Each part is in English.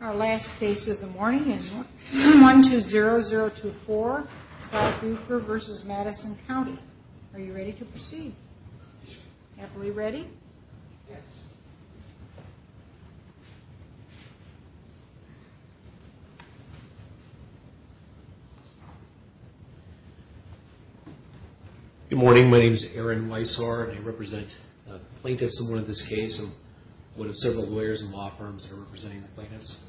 Our last case of the morning is 120024 Todd Bueker v. Madison County. Are you ready to proceed? Happily ready? Yes. Good morning. My name is Aaron Weissar and I represent the plaintiffs in this case. I'm one of several lawyers in law firms that are representing the plaintiffs.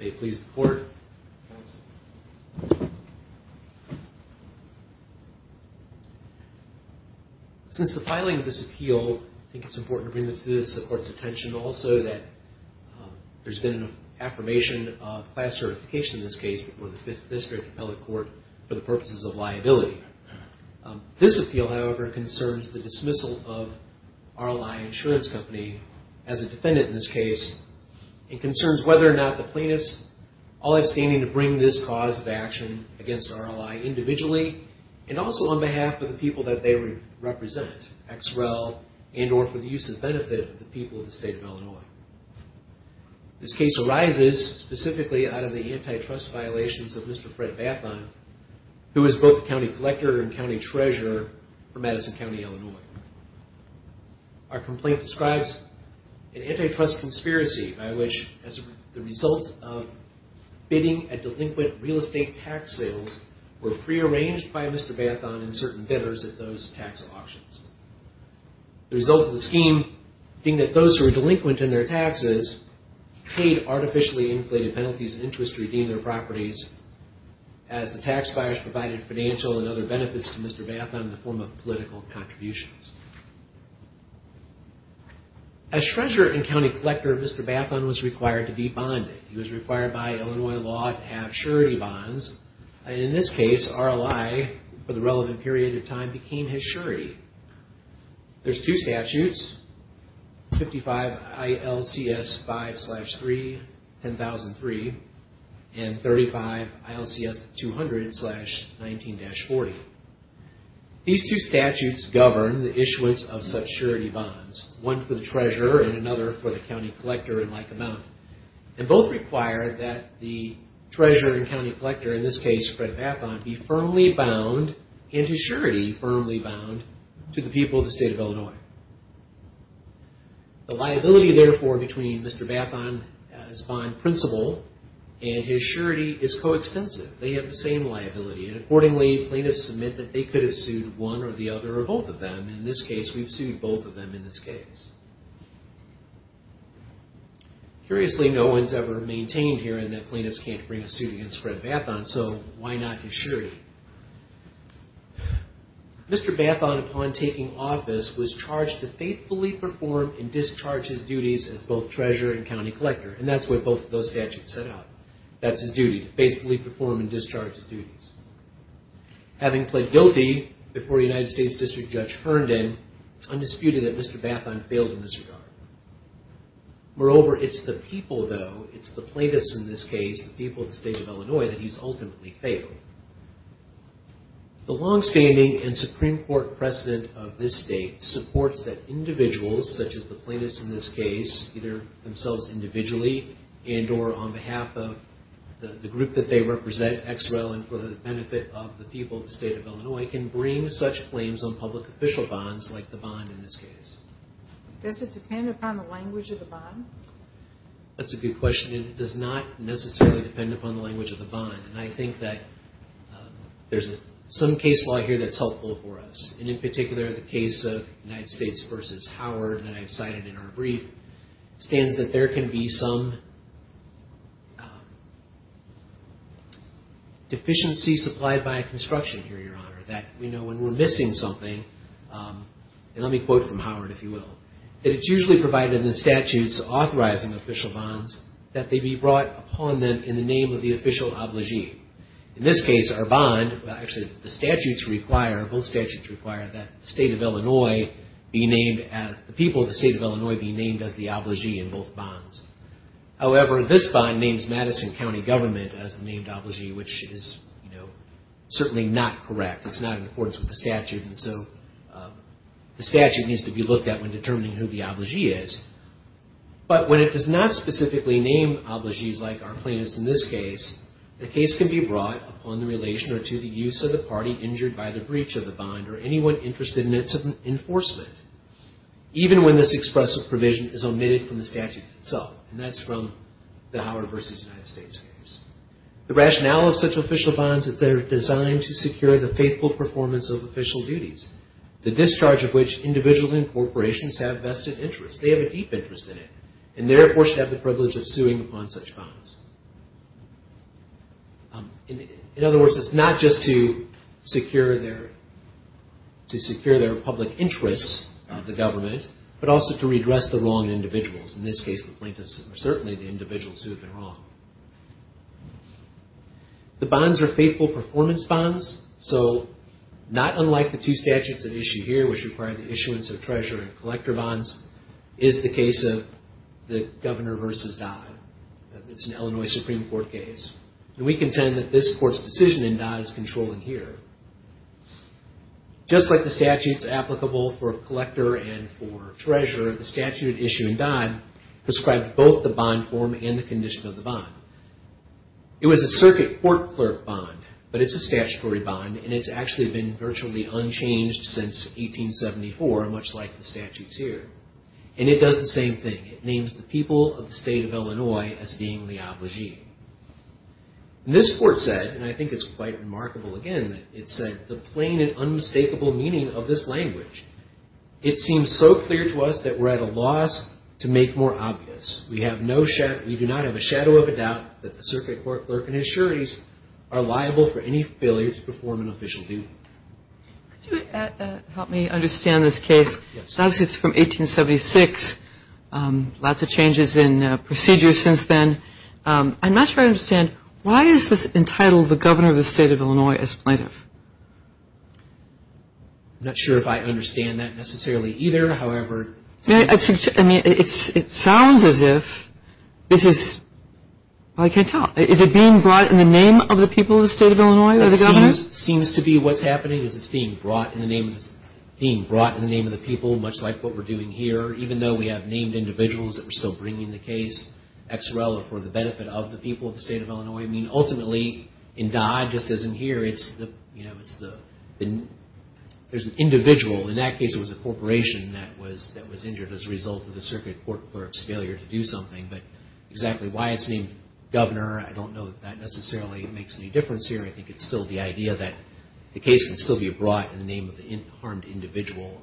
May it please the court. Since the filing of this appeal, I think it's important to bring this to the court's attention also that there's been an affirmation of class certification in this case before the Fifth District Appellate Court for the purposes of liability. This appeal, however, concerns the dismissal of RLI Insurance Company as a defendant in this case and concerns whether or not the plaintiffs all have standing to bring this cause of action against RLI individually and also on behalf of the people that they represent, XREL and or for the use and benefit of the people of the state of Illinois. This case arises specifically out of the antitrust violations of Mr. Fred Bathon who is both a county collector and county treasurer for Madison County, Illinois. Our complaint describes an antitrust conspiracy by which the results of bidding at delinquent real estate tax sales were prearranged by Mr. Bathon and certain bidders at those tax auctions. The result of the scheme being that those who were delinquent in their taxes paid artificially inflated penalties and interest to redeem their properties as the tax buyers provided financial and other benefits to Mr. Bathon in the form of political contributions. As treasurer and county collector, Mr. Bathon was required to be bonded. He was required by Illinois law to have surety bonds and in this case RLI for the relevant period of time became his surety. There's two statutes, 55 ILCS 5-3-1003 and 35 ILCS 200-19-40. These two statutes govern the issuance of such surety bonds, one for the treasurer and another for the county collector in Lycoming. And both require that the treasurer and county collector, in this case Fred Bathon, be firmly bound and his surety firmly bound to the people of the state of Illinois. The liability therefore between Mr. Bathon, his bond principal, and his surety is coextensive. They have the same liability and accordingly plaintiffs submit that they could have sued one or the other or both of them. In this case, we've sued both of them in this case. Curiously, no one's ever maintained here that plaintiffs can't bring a suit against Fred Bathon, so why not his surety? Mr. Bathon, upon taking office, was charged to faithfully perform and discharge his duties as both treasurer and county collector. And that's what both of those statutes set out. That's his duty, to faithfully perform and discharge his duties. Having pled guilty before United States District Judge Herndon, it's undisputed that Mr. Bathon failed in this regard. Moreover, it's the people though, it's the plaintiffs in this case, the people of the state of Illinois, that he's ultimately failed. The longstanding and Supreme Court precedent of this state supports that individuals, such as the plaintiffs in this case, either themselves individually and or on behalf of the group that they represent, XREL, and for the benefit of the people of the state of Illinois, can bring such claims on public official bonds like the bond in this case. Does it depend upon the language of the bond? That's a good question. It does not necessarily depend upon the language of the bond. And I think that there's some case law here that's helpful for us. And in particular, the case of United States v. Howard that I've cited in our brief, stands that there can be some deficiency supplied by construction here, Your Honor. That, you know, when we're missing something, and let me quote from Howard, if you will, that it's usually provided in the statutes authorizing official bonds that they be brought upon them in the name of the official obligee. In this case, our bond, actually the statutes require, both statutes require that the state of Illinois be named as, the people of the state of Illinois be named as the obligee in both bonds. However, this bond names Madison County Government as the named obligee, which is, you know, certainly not correct. It's not in accordance with the statute, and so the statute needs to be looked at when determining who the obligee is. But when it does not specifically name obligees like our plaintiffs in this case, the case can be brought upon the relation or to the use of the party injured by the breach of the bond or anyone interested in its enforcement, even when this expressive provision is omitted from the statute itself. And that's from the Howard v. United States case. The rationale of such official bonds is that they're designed to secure the faithful performance of official duties, the discharge of which individuals and corporations have vested interests. They have a deep interest in it, and therefore should have the privilege of suing upon such bonds. In other words, it's not just to secure their public interests, the government, but also to redress the wrong individuals. In this case, the plaintiffs are certainly the individuals who have been wrong. The bonds are faithful performance bonds, so not unlike the two statutes at issue here, which require the issuance of treasurer and collector bonds, is the case of the Governor v. Dodd. It's an Illinois Supreme Court case, and we contend that this court's decision in Dodd is controlling here. Just like the statutes applicable for collector and for treasurer, the statute at issue in Dodd prescribed both the bond form and the condition of the bond. It was a circuit court clerk bond, but it's a statutory bond, and it's actually been virtually unchanged since 1874, much like the statutes here. And it does the same thing. It names the people of the state of Illinois as being the obligee. And this court said, and I think it's quite remarkable, again, that it said the plain and unmistakable meaning of this language. It seems so clear to us that we're at a loss to make more obvious. We do not have a shadow of a doubt that the circuit court clerk and his sureties are liable for any failure to perform an official duty. Could you help me understand this case? Yes. It's from 1876, lots of changes in procedure since then. I'm not sure I understand. Why is this entitled the governor of the state of Illinois as plaintiff? I'm not sure if I understand that necessarily either. However, it seems to me it sounds as if this is, well, I can't tell. Is it being brought in the name of the people of the state of Illinois, the governor? It seems to be what's happening is it's being brought in the name of the people, much like what we're doing here. Even though we have named individuals that we're still bringing the case, XRL for the benefit of the people of the state of Illinois. I mean, ultimately, in Dodd, just as in here, there's an individual. In that case, it was a corporation that was injured as a result of the circuit court clerk's failure to do something. But exactly why it's named governor, I don't know that that necessarily makes any difference here. I think it's still the idea that the case can still be brought in the name of the harmed individual.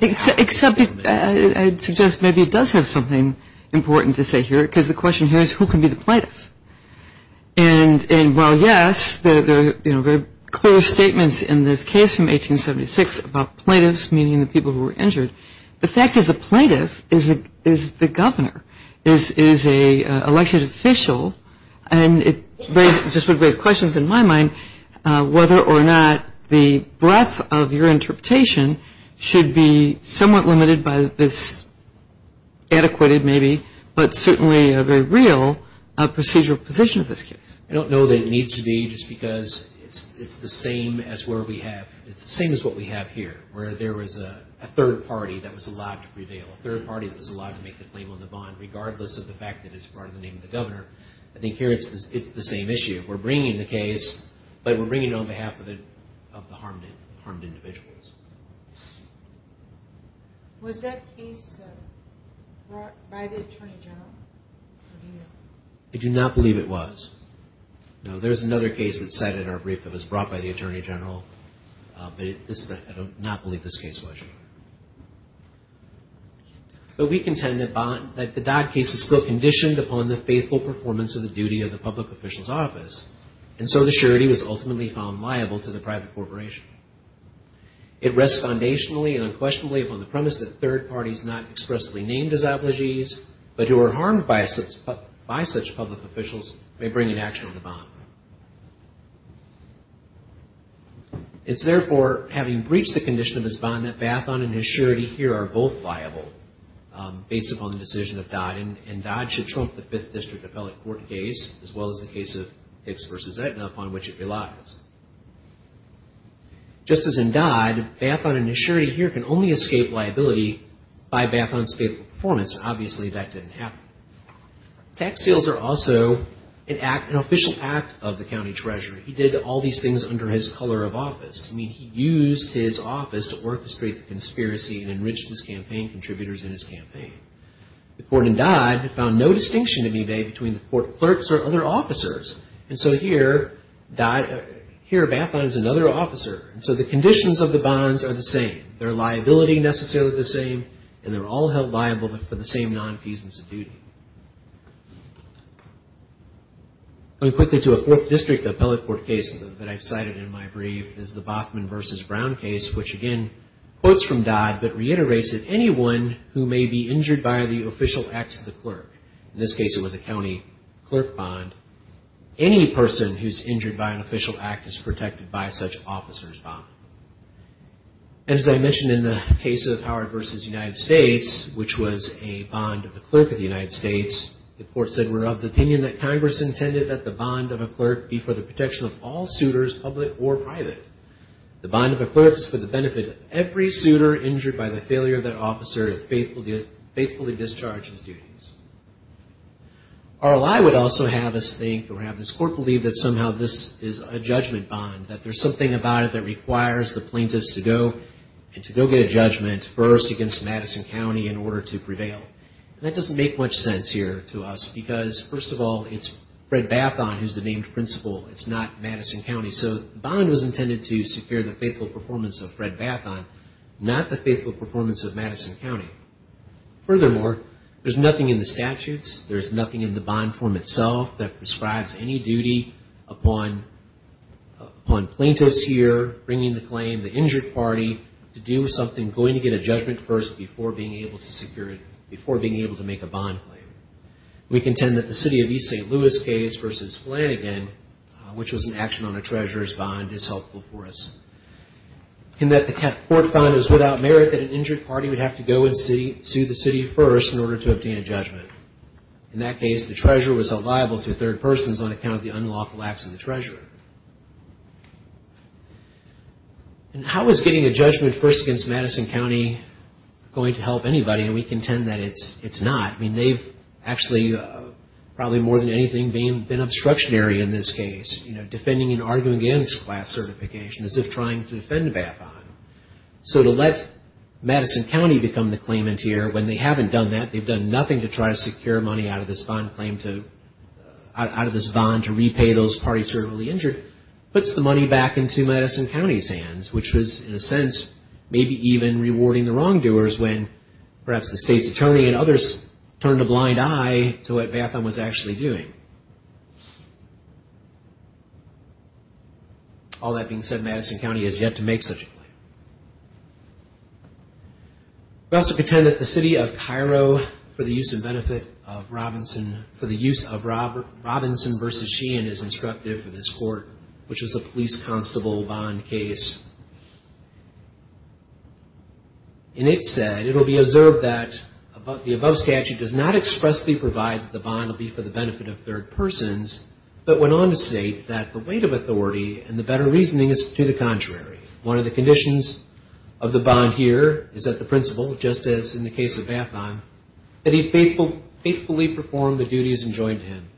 Except I'd suggest maybe it does have something important to say here, because the question here is who can be the plaintiff? And while, yes, there are very clear statements in this case from 1876 about plaintiffs, meaning the people who were injured, the fact is the plaintiff is the governor, is an elected official. And it just would raise questions in my mind whether or not the breadth of your interpretation should be somewhat limited by this adequate, maybe, but certainly a very real procedural position of this case. I don't know that it needs to be, just because it's the same as where we have, it's the same as what we have here, where there was a third party that was allowed to prevail, a third party that was allowed to make the claim on the bond, regardless of the fact that it's brought in the name of the governor. I think here it's the same issue. We're bringing the case, but we're bringing it on behalf of the harmed individuals. Was that case brought by the Attorney General? I do not believe it was. Now, there's another case that's cited in our brief that was brought by the Attorney General, but I do not believe this case was. But we contend that the Dodd case is still conditioned upon the faithful performance of the duty of the public official's office, and so the surety was ultimately found liable to the private corporation. It rests foundationally and unquestionably upon the premise that third parties not expressly named as obligees, but who are harmed by such public officials, may bring an action on the bond. It's therefore, having breached the condition of this bond, that Bathon and his surety here are both liable, based upon the decision of Dodd, and Dodd should trump the Fifth District Appellate Court case, as well as the case of Hicks v. Aetna, upon which it relies. Just as in Dodd, Bathon and his surety here can only escape liability by Bathon's faithful performance. Obviously, that didn't happen. Tax sales are also an official act of the county treasurer. He did all these things under his color of office. I mean, he used his office to orchestrate the conspiracy and enriched his campaign contributors in his campaign. The court in Dodd found no distinction in eBay between the court clerks or other officers. And so here, Bathon is another officer. And so the conditions of the bonds are the same. They're liability necessarily the same, and they're all held liable for the same nonfeasance of duty. Going quickly to a Fourth District Appellate Court case that I've cited in my brief, is the Bothman v. Brown case, which again, quotes from Dodd, but reiterates that anyone who may be injured by the official acts of the clerk, in this case it was a county clerk bond, any person who's injured by an official act is protected by such officer's bond. And as I mentioned in the case of Howard v. United States, which was a bond of the clerk of the United States, the court said we're of the opinion that Congress intended that the bond of a clerk be for the protection of all suitors, public or private. The bond of a clerk is for the benefit of every suitor injured by the failure of that officer to faithfully discharge his duties. RLI would also have us think, or have this court believe, that somehow this is a judgment bond, that there's something about it that requires the plaintiffs to go and to go get a judgment first against Madison County in order to prevail. And that doesn't make much sense here to us, because first of all, it's Fred Bathon who's the named principal. It's not Madison County. So the bond was intended to secure the faithful performance of Fred Bathon, not the faithful performance of Madison County. Furthermore, there's nothing in the statutes, there's nothing in the bond form itself that prescribes any duty upon plaintiffs here bringing the claim, the injured party, to do with something going to get a judgment first before being able to secure it, before being able to make a bond claim. We contend that the city of East St. Louis case versus Flanagan, which was an action on a treasurer's bond, is helpful for us. And that the court found it was without merit that an injured party would have to go and sue the city first in order to obtain a judgment. In that case, the treasurer was held liable through third persons on account of the unlawful acts of the treasurer. And how is getting a judgment first against Madison County going to help anybody? And we contend that it's not. I mean, they've actually probably more than anything been obstructionary in this case, defending and arguing against class certification as if trying to defend Bathon. So to let Madison County become the claimant here when they haven't done that, they've done nothing to try to secure money out of this bond claim, out of this bond to repay those parties who are really injured, puts the money back into Madison County's hands, which was, in a sense, maybe even rewarding the wrongdoers when perhaps the state's attorney and others turned a blind eye to what Bathon was actually doing. All that being said, Madison County has yet to make such a claim. We also contend that the city of Cairo, for the use and benefit of Robinson, for the use of Robinson v. Sheehan is instructed for this court, which was a police constable bond case. And it said, it will be observed that the above statute does not expressly provide but went on to state that the weight of authority and the better reasoning is to the contrary. One of the conditions of the bond here is that the principal, just as in the case of Bathon, that he faithfully performed the duties enjoined to him.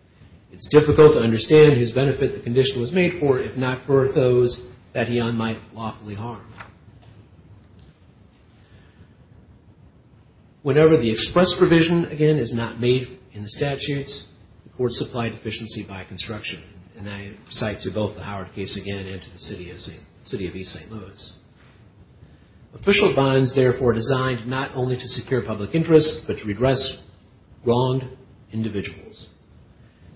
It's difficult to understand his benefit the condition was made for, if not for those that he might unlawfully harm. Whenever the express provision, again, is not made in the statutes, the court supplied efficiency by construction. And I cite to both the Howard case again and to the city of East St. Louis. Official bonds, therefore, are designed not only to secure public interest, but to redress wronged individuals.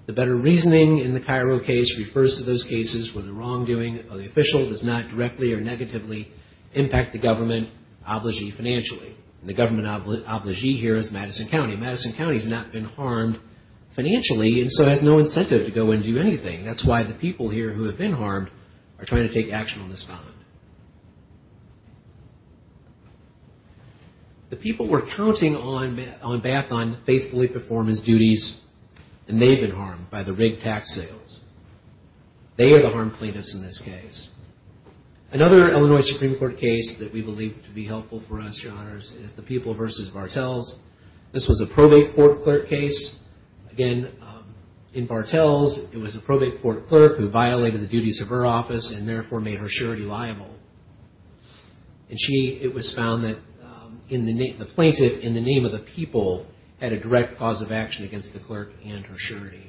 The better reasoning in the Cairo case refers to those cases where the wrongdoing of the official does not directly or negatively impact the government obligee financially. The government obligee here is Madison County. Madison County has not been harmed financially and so has no incentive to go and do anything. That's why the people here who have been harmed are trying to take action on this bond. The people were counting on Bathon to faithfully perform his duties, and they've been harmed by the rigged tax sales. They are the harmed plaintiffs in this case. Another Illinois Supreme Court case that we believe to be helpful for us, Your Honors, is the People v. Bartels. This was a probate court clerk case. Again, in Bartels, it was a probate court clerk who violated the duties of her office and therefore made her surety liable. It was found that the plaintiff, in the name of the people, had a direct cause of action against the clerk and her surety.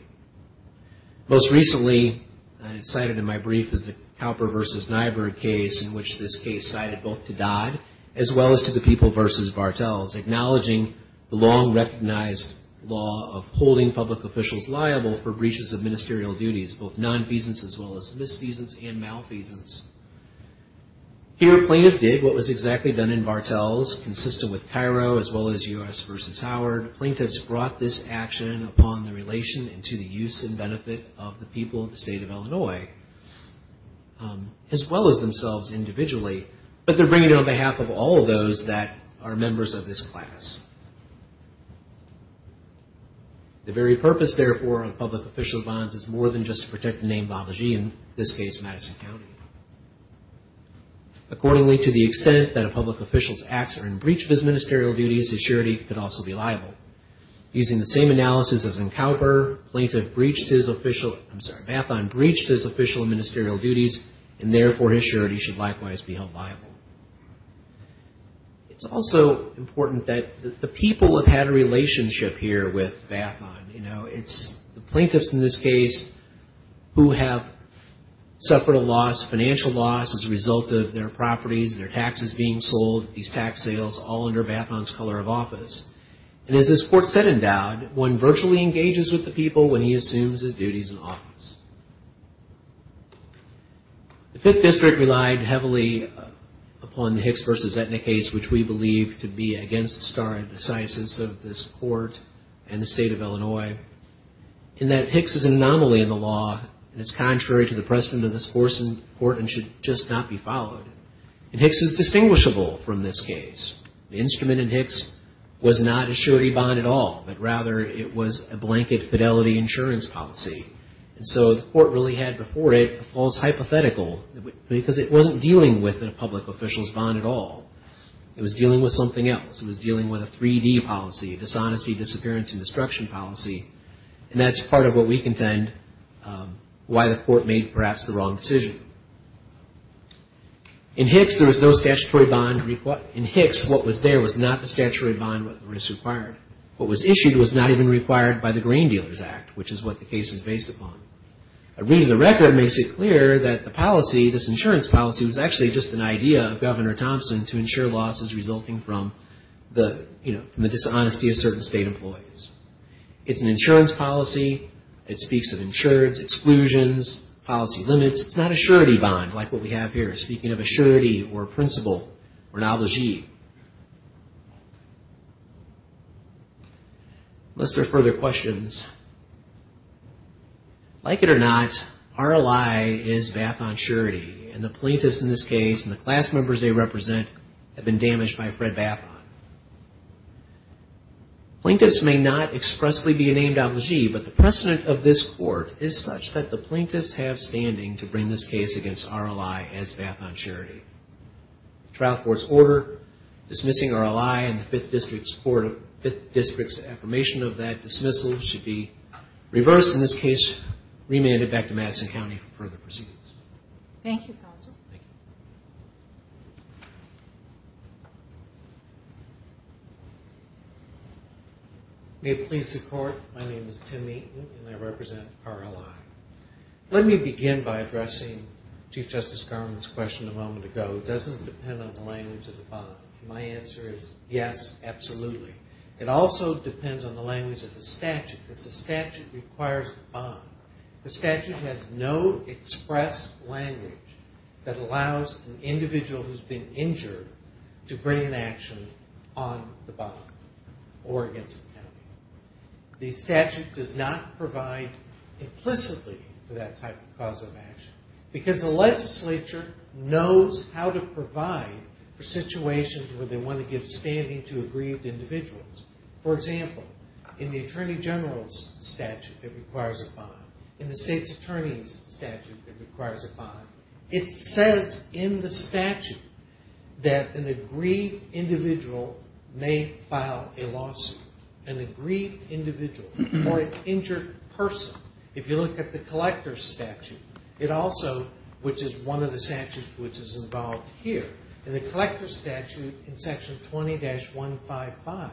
Most recently, and it's cited in my brief, is the Cowper v. Nyberg case in which this case cited both to Dodd as well as to the People v. Bartels, acknowledging the long-recognized law of holding public officials liable for breaches of ministerial duties, both nonfeasance as well as misfeasance and malfeasance. Here, plaintiffs did what was exactly done in Bartels, consistent with Cairo as well as U.S. v. Howard. Plaintiffs brought this action upon the relation and to the use and benefit of the people of the state of Illinois, as well as themselves individually, but they're bringing it on behalf of all of those that are members of this class. The very purpose, therefore, of public official bonds is more than just to protect the name Babaji, in this case, Madison County. Accordingly, to the extent that a public official's acts are in breach of his ministerial duties, his surety could also be liable. Using the same analysis as in Cowper, Mathon breached his official and ministerial duties and therefore his surety should likewise be held liable. It's also important that the people have had a relationship here with Mathon. It's the plaintiffs in this case who have suffered a loss, financial loss, as a result of their properties, their taxes being sold, these tax sales, all under Mathon's color of office. And as this court said in Dowd, one virtually engages with the people when he assumes his duties in office. The Fifth District relied heavily upon the Hicks v. Zetnik case, which we believe to be against the star and decisis of this court and the state of Illinois, in that Hicks is an anomaly in the law and it's contrary to the precedent of this court and should just not be followed. And Hicks is distinguishable from this case. The instrument in Hicks was not a surety bond at all, but rather it was a blanket fidelity insurance policy. And so the court really had before it a false hypothetical because it wasn't dealing with a public official's bond at all. It was dealing with something else. It was dealing with a 3D policy, dishonesty, disappearance, and destruction policy. And that's part of what we contend why the court made perhaps the wrong decision. In Hicks there was no statutory bond required. What was issued was not even required by the Grain Dealers Act, which is what the case is based upon. A reading of the record makes it clear that the policy, this insurance policy, was actually just an idea of Governor Thompson to insure losses resulting from the dishonesty of certain state employees. It's an insurance policy. It speaks of insurance exclusions, policy limits. It's not a surety bond like what we have here, speaking of a surety or principle or an obligee. Unless there are further questions. Like it or not, RLI is Bathon Surety and the plaintiffs in this case and the class members they represent have been damaged by Fred Bathon. Plaintiffs may not expressly be named obligee, but the precedent of this court is such that the plaintiffs have standing to bring this case against RLI as Bathon Surety. The trial court's order dismissing RLI and the 5th District's affirmation of that dismissal should be reversed in this case, remanded back to Madison County for further proceedings. Thank you, Counsel. Thank you. May it please the Court, my name is Tim Meaton and I represent RLI. Let me begin by addressing Chief Justice Garment's question a moment ago. It doesn't depend on the language of the bond. My answer is yes, absolutely. It also depends on the language of the statute because the statute requires language that allows an individual who has been injured to bring an action on the bond or against the county. The statute does not provide implicitly for that type of cause of action because the legislature knows how to provide for situations where they want to give standing to aggrieved individuals. For example, in the Attorney General's statute that requires a bond, in the State's Attorney's statute that requires a bond, it says in the statute that an aggrieved individual may file a lawsuit. An aggrieved individual or an injured person. If you look at the Collector's statute, which is one of the statutes which is involved here, in the Collector's statute in Section 20-155,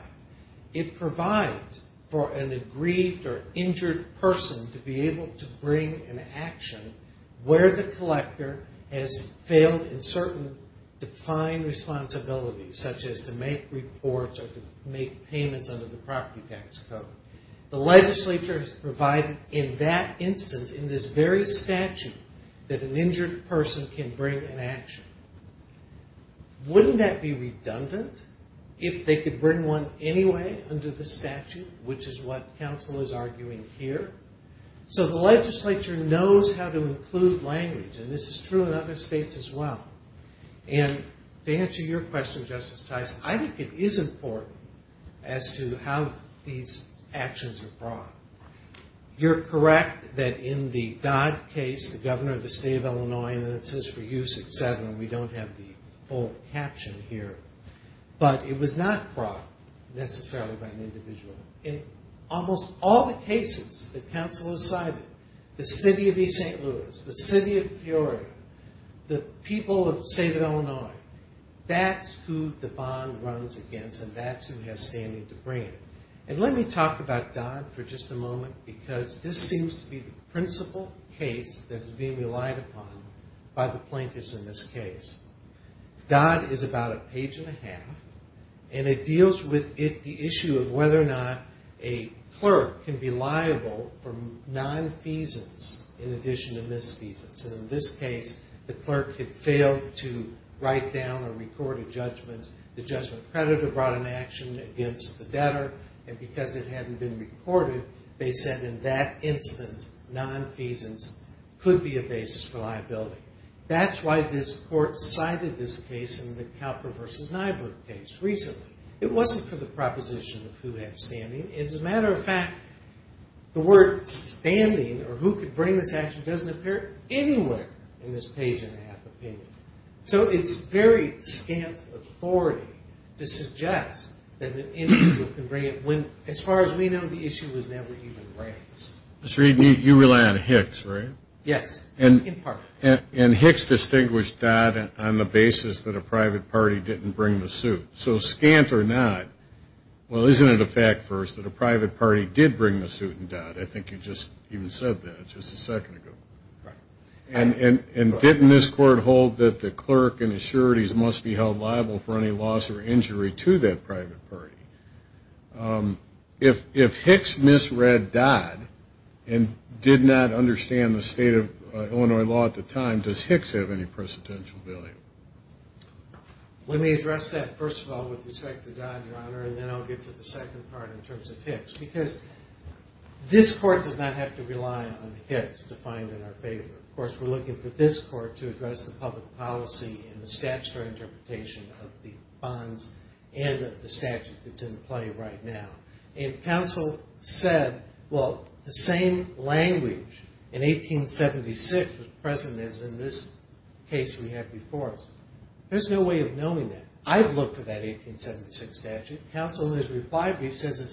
it provides for an aggrieved or injured person to be able to bring an action where the Collector has failed in certain defined responsibilities, such as to make reports or to make payments under the property tax code. The legislature has provided in that instance, in this very statute, that an injured person can bring an action. Wouldn't that be redundant if they could bring one anyway under the statute, which is what counsel is arguing here? The legislature knows how to include language, and this is true in other states as well. To answer your question, Justice Tice, I think it is important as to how these actions are brought. You're correct that in the Dodd case, the governor of the state of Illinois, and it says for use at 7, we don't have the full caption here, but it was not brought necessarily by an individual. In almost all the cases that counsel has cited, the city of East St. Louis, the city of Peoria, the people of the state of Illinois, that's who the bond runs against and that's who has standing to bring it. Let me talk about Dodd for just a moment, because this seems to be the principal case that is being relied upon by the plaintiffs in this case. Dodd is about a page and a half, and it deals with the issue of whether or not a clerk can be liable for nonfeasance in addition to misfeasance. In this case, the clerk had failed to write down or record a judgment. The judgment creditor brought an action against the debtor, and because it hadn't been recorded, they said in that instance, nonfeasance could be a basis for liability. That's why this court cited this case in the Calper v. Nyberg case recently. It wasn't for the proposition of who had standing. As a matter of fact, the word standing or who could bring this action doesn't appear anywhere in this page and a half opinion. So it's very scant authority to suggest that an individual can bring it when, as far as we know, the issue was never even raised. Mr. Reed, you rely on Hicks, right? Yes, in part. And Hicks distinguished Dodd on the basis that a private party didn't bring the suit. So scant or not, well, isn't it a fact first that a private party did bring the suit a second ago? And didn't this court hold that the clerk in assurities must be held liable for any loss or injury to that private party? If Hicks misread Dodd and did not understand the state of Illinois law at the time, does Hicks have any precedential value? Let me address that first of all with respect to Dodd, Your Honor, and then I'll get to the second part in terms of Hicks, because this court does not have to rely on Hicks defined in our favor. Of course, we're looking for this court to address the public policy and the statutory interpretation of the bonds and of the statute that's in play right now. And counsel said, well, the same language in 1876 was present as in this case we have before us. There's no way of saying it's the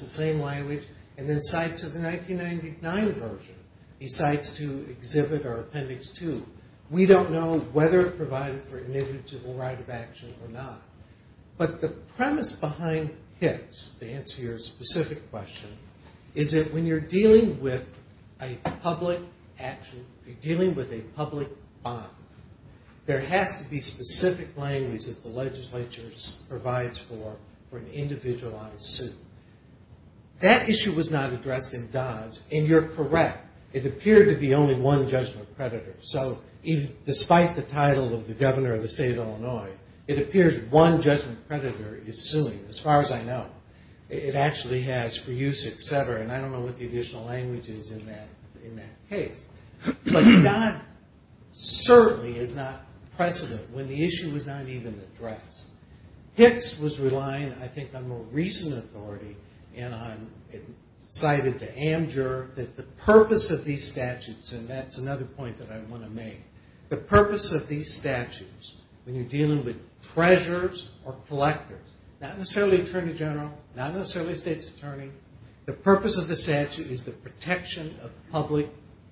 same language. And then cites of the 1999 version, he cites to exhibit our appendix two. We don't know whether it provided for an individual right of action or not. But the premise behind Hicks, to answer your specific question, is that when you're dealing with a public action, you're dealing with a public bond, there has to be specific language that the legislature provides for an individual right of suit. That issue was not addressed in Dodd's, and you're correct. It appeared to be only one judgment creditor. So despite the title of the governor of the state of Illinois, it appears one judgment creditor is suing, as far as I know. It actually has for use, et cetera, and I don't know what the additional language is in that case. But Dodd certainly is not precedent when the issue was not even addressed. Hicks was relying, I think, on more recent authority and cited to Amjur that the purpose of these statutes, and that's another point that I want to make. The purpose of these statutes, when you're dealing with treasures or collectors, not necessarily attorney general, not necessarily a state's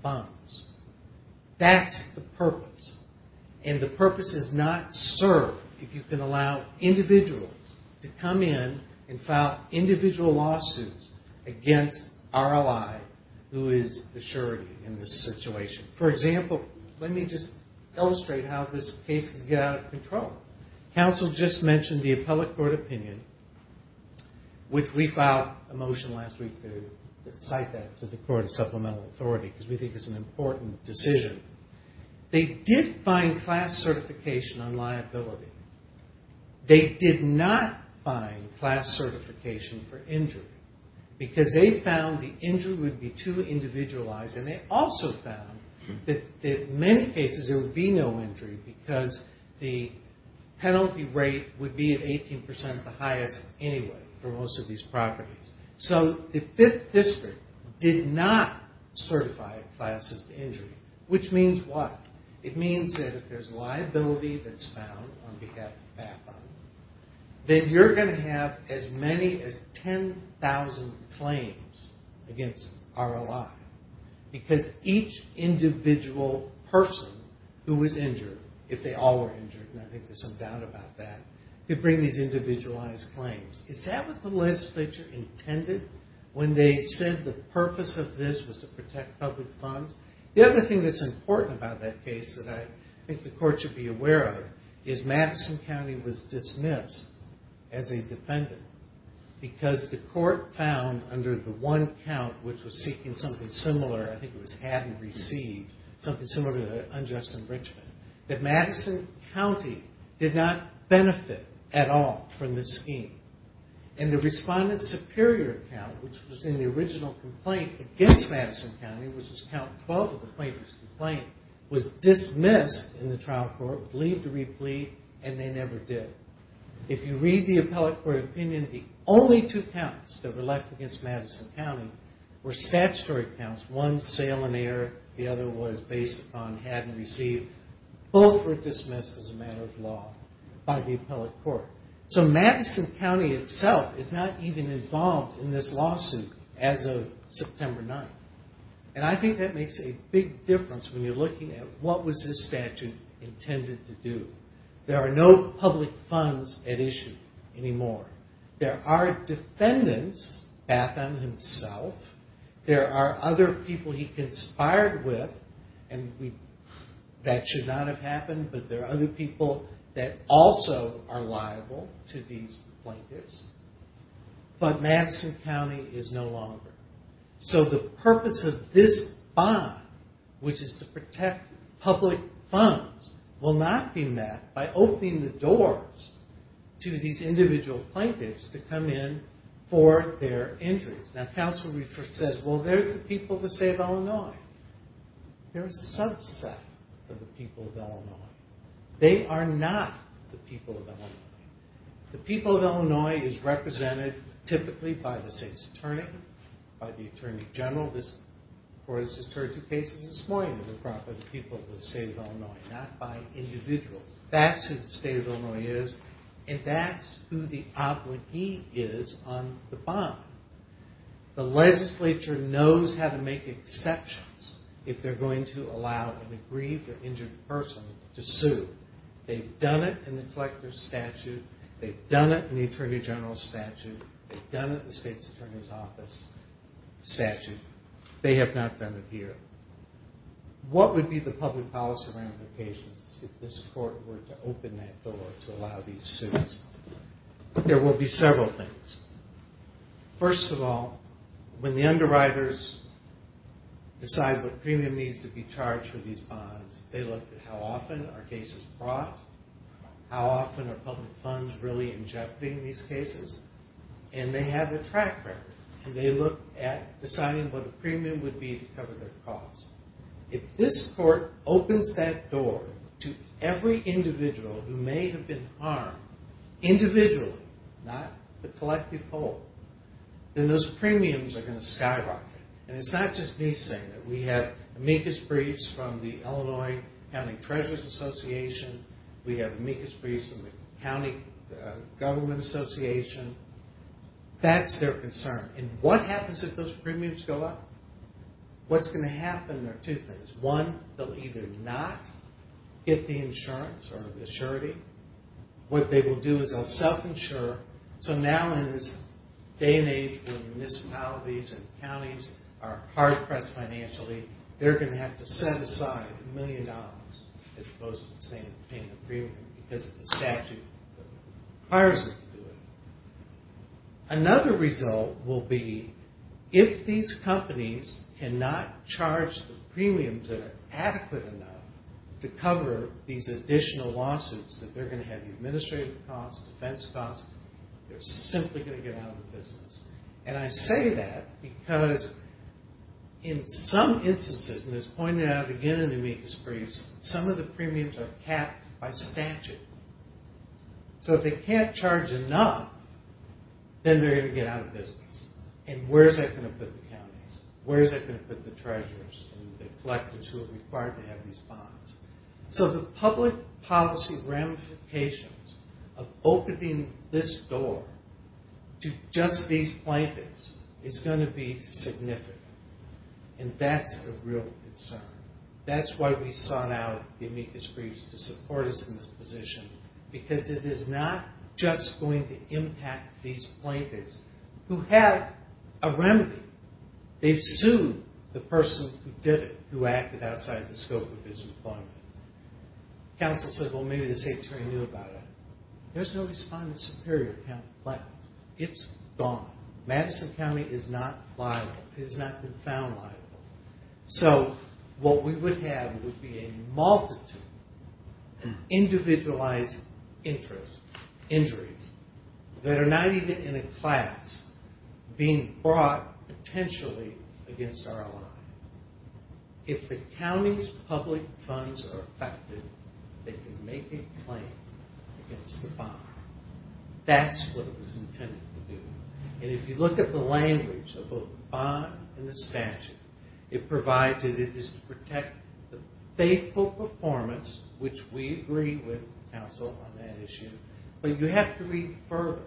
bonds. That's the purpose. And the purpose is not served if you can allow individuals to come in and file individual lawsuits against our ally, who is the surety in this situation. For example, let me just illustrate how this case can get out of control. Council just mentioned the appellate court opinion, which we think is an important decision. They did find class certification on liability. They did not find class certification for injury, because they found the injury would be too individualized, and they also found that in many cases there would be no injury, because the penalty rate would be at 18% the highest anyway for most of these properties. So the 5th District did not certify classes to injury, which means what? It means that if there's liability that's found on behalf of BAPA, then you're going to have as many as 10,000 claims against our ally, because each individual person who was injured, if they all were injured, and I think there's some that were not intended, when they said the purpose of this was to protect public funds. The other thing that's important about that case that I think the court should be aware of is Madison County was dismissed as a defendant, because the court found under the one count, which was seeking something similar, I think it was had and received, something similar to an unjust enrichment, that Madison County did not The superior count, which was in the original complaint against Madison County, which was count 12 of the plaintiff's complaint, was dismissed in the trial court, believed to be a plea, and they never did. If you read the appellate court opinion, the only two counts that were left against Madison County were statutory counts, one sale and error, the other was based on had and received. Both were dismissed as a matter of law by the appellate court. So Madison County itself is not even involved in this lawsuit as of September 9th, and I think that makes a big difference when you're looking at what was this statute intended to do. There are no public funds at issue anymore. There are defendants, Batham himself, there are other people he conspired with, and that should not have happened, but there are other people that also are liable to these plaintiffs, but Madison County is no longer. So the purpose of this bond, which is to protect public funds, will not be met by opening the doors to these individual plaintiffs to come in for their injuries. Now, counsel says, well, they're the people of the state of Illinois. They're a subset of the people of Illinois. They are not the people of Illinois. The people of Illinois is represented typically by the state's attorney, by the attorney general. This court has just heard two cases this morning of the people of the state of Illinois, not by individuals. That's who the state of Illinois is, and that's who the employee is on the bond. The legislature knows how to make exceptions if they're going to allow an aggrieved or injured person to sue. They've done it in the collector's statute. They've done it in the attorney general's statute. They've done it in the state's attorney's office statute. They have not done it here. What would be the excuse? There will be several things. First of all, when the underwriters decide what premium needs to be charged for these bonds, they look at how often are cases brought, how often are public funds really in jeopardy in these cases, and they have a track record, and they look at deciding what a premium would be to cover their costs. If this court opens that door to every individual who may have been harmed individually, not the collective whole, then those premiums are going to skyrocket. And it's not just me saying that. We have amicus briefs from the Illinois County Treasurer's Association. We have amicus briefs from the County Government Association. That's their concern. And what happens if those companies either not get the insurance or the surety? What they will do is they'll self-insure. So now in this day and age where municipalities and counties are hard-pressed financially, they're going to have to set aside a million dollars as opposed to paying the premium because of the statute that requires them to do it. Another result will be if these companies cannot charge the premiums that are adequate enough to cover these additional lawsuits that they're going to have administrative costs, defense costs, they're simply going to get out of the business. And I say that because in some instances, and as pointed out again in the amicus briefs, some of the premiums are capped by statute. So if they can't charge enough, then they're going to get out of business. And where is that going to put the counties? Where is that going to put the treasurers and the collectors who are required to have these bonds? So the public policy ramifications of opening this door to just these plaintiffs is going to be significant. And that's a real concern. That's why we sought out the amicus briefs to support us in this position, because it is not just going to impact these plaintiffs who have a remedy. They've sued the person who did it, who acted outside the scope of his employment. Council said, well, maybe the state attorney knew about it. There's no respondent superior to the county plan. It's gone. Madison County is not liable. So what we would have would be a multitude of individualized injuries that are not even in a class being brought potentially against our ally. If the county's public funds are affected, they can make a claim against the bond. That's what it was intended to do. And if you look at the language of both the bond and the statute, it provides that it is to protect the faithful performance, which we agree with Council on that issue. But you have to read further.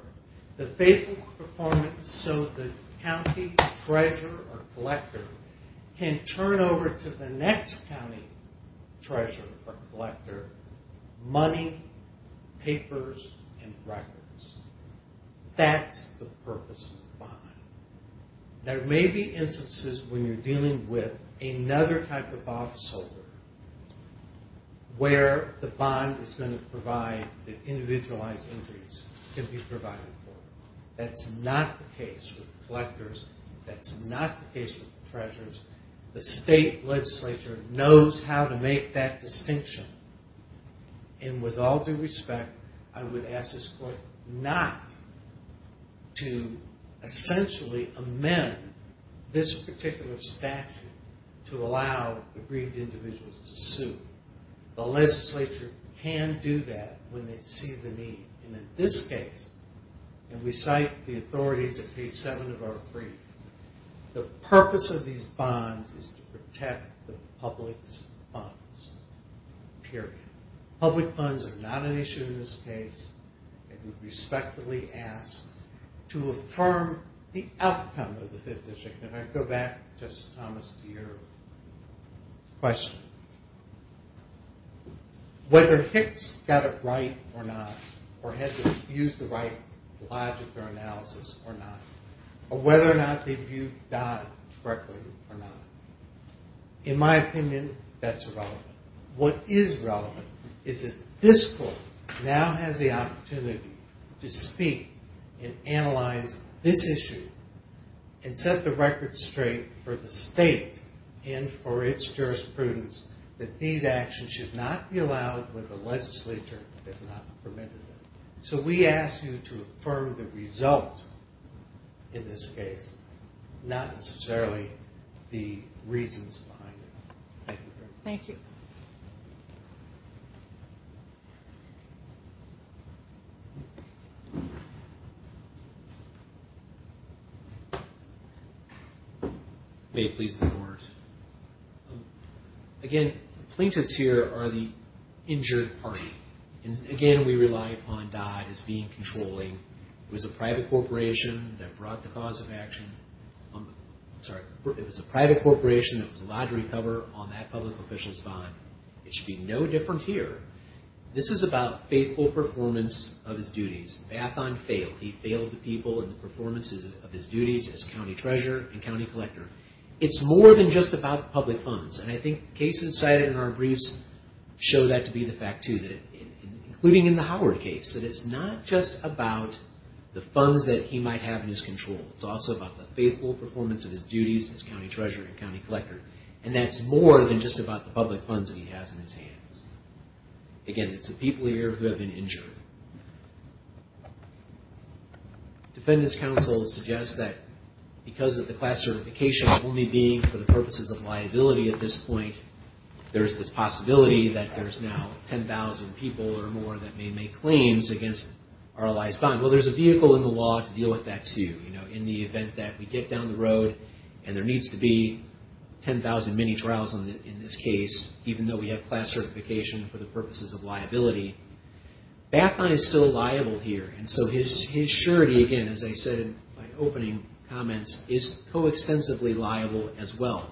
The faithful performance so the county treasurer or collector can turn over to the next county treasurer or collector money, papers, and records. That's the purpose of the bond. There may be instances when you're dealing with another type of officer where the bond is going to provide the individualized injuries can be provided for. That's not the case with the collectors. That's not the case with the treasurers. The state legislature knows how to make that distinction. And with all due respect, I would ask this court not to essentially amend this particular statute to allow aggrieved individuals to sue. The legislature can do that when they see the need. And in this case, and we all agree, the purpose of the bonds is to protect the public's funds. Period. Public funds are not an issue in this case. And we respectfully ask to affirm the outcome of the Fifth District. And I go back, Justice Thomas, to your question. Whether Hicks got it right or not, or had to use the right logic for analysis or not, or whether or not they viewed Dodd correctly or not. In my opinion, that's irrelevant. What is relevant is that this court now has the opportunity to speak and analyze this issue and set the record straight for the state and for its jurisprudence that these actions should not be allowed when the legislature has not permitted them. So we ask you to affirm the result in this case, not necessarily the reasons behind it. Thank you. Thank you. Again, the plaintiffs here are the injured party. Again, we rely upon Dodd as being controlling. It was a private corporation that brought the cause of action. It was a private corporation that was allowed to recover on that public official's bond. It should be no different here. This is about faithful performance of his duties. Bathon failed. He failed the people in the performance of his duties as county treasurer and county collector. It's more than just about the public funds. And I think cases cited in our briefs show that to be the fact, too. Including in the Howard case. It's not just about the funds that he might have in his control. It's also about the faithful performance of his duties as county treasurer and county collector. And that's more than just about the public funds that he has in his hands. Again, it's the people here who have been injured. Defendant's counsel suggests that because of the class certification only being for the purposes of liability at this point, there's this possibility that there's now 10,000 people or more that may make claims against our allies' bond. Well, there's a vehicle in the law to deal with that, too. In the event that we get down the road and there needs to be 10,000 mini-trials in this case, even though we have class certification for the purposes of liability, Bathon is still liable here. And so his surety, again, as I said in my opening comments, is co-extensively liable as well.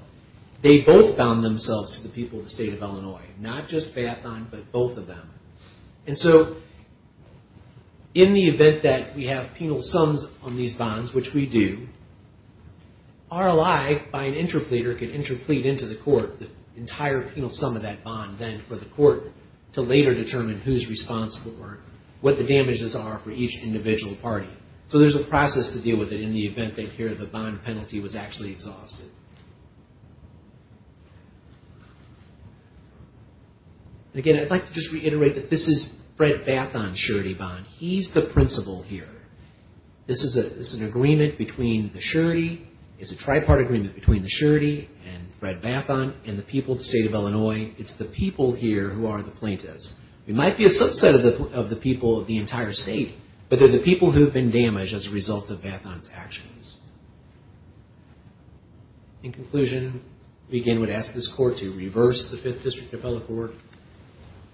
They both bound themselves to the people of the state of Illinois. Not just Bathon, but both of them. And so in the event that we have penal sums on these bonds, which we do, our ally, by an interpleader, can interplead into the court the entire penal sum of that bond then for the court to later determine who's responsible for what the damages are for each individual party. So there's a process to deal with it in the event that here the bond penalty was actually exhausted. Again, I'd like to just reiterate that this is Fred Bathon's surety bond. He's the principal here. This is an agreement between the surety. It's a tripartite agreement between the surety and Fred Bathon and the people here who are the plaintiffs. It might be a subset of the people of the entire state, but they're the people who've been damaged as a result of Bathon's actions. In conclusion, we again would ask this court to reverse the 5th District Appellate Board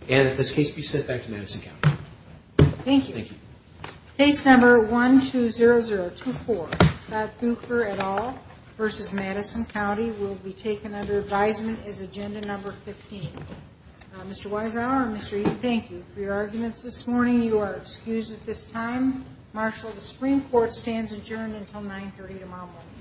and in this case be sent back to Madison County. Thank you. Case number 120024, Scott Buecher et al. v. Madison County will be taken under advisement as agenda number 15. Mr. Weisauer and Mr. Eaton, thank you for your arguments this morning. You are excused at this time. Marshal, the Supreme Court stands adjourned until 930 tomorrow morning.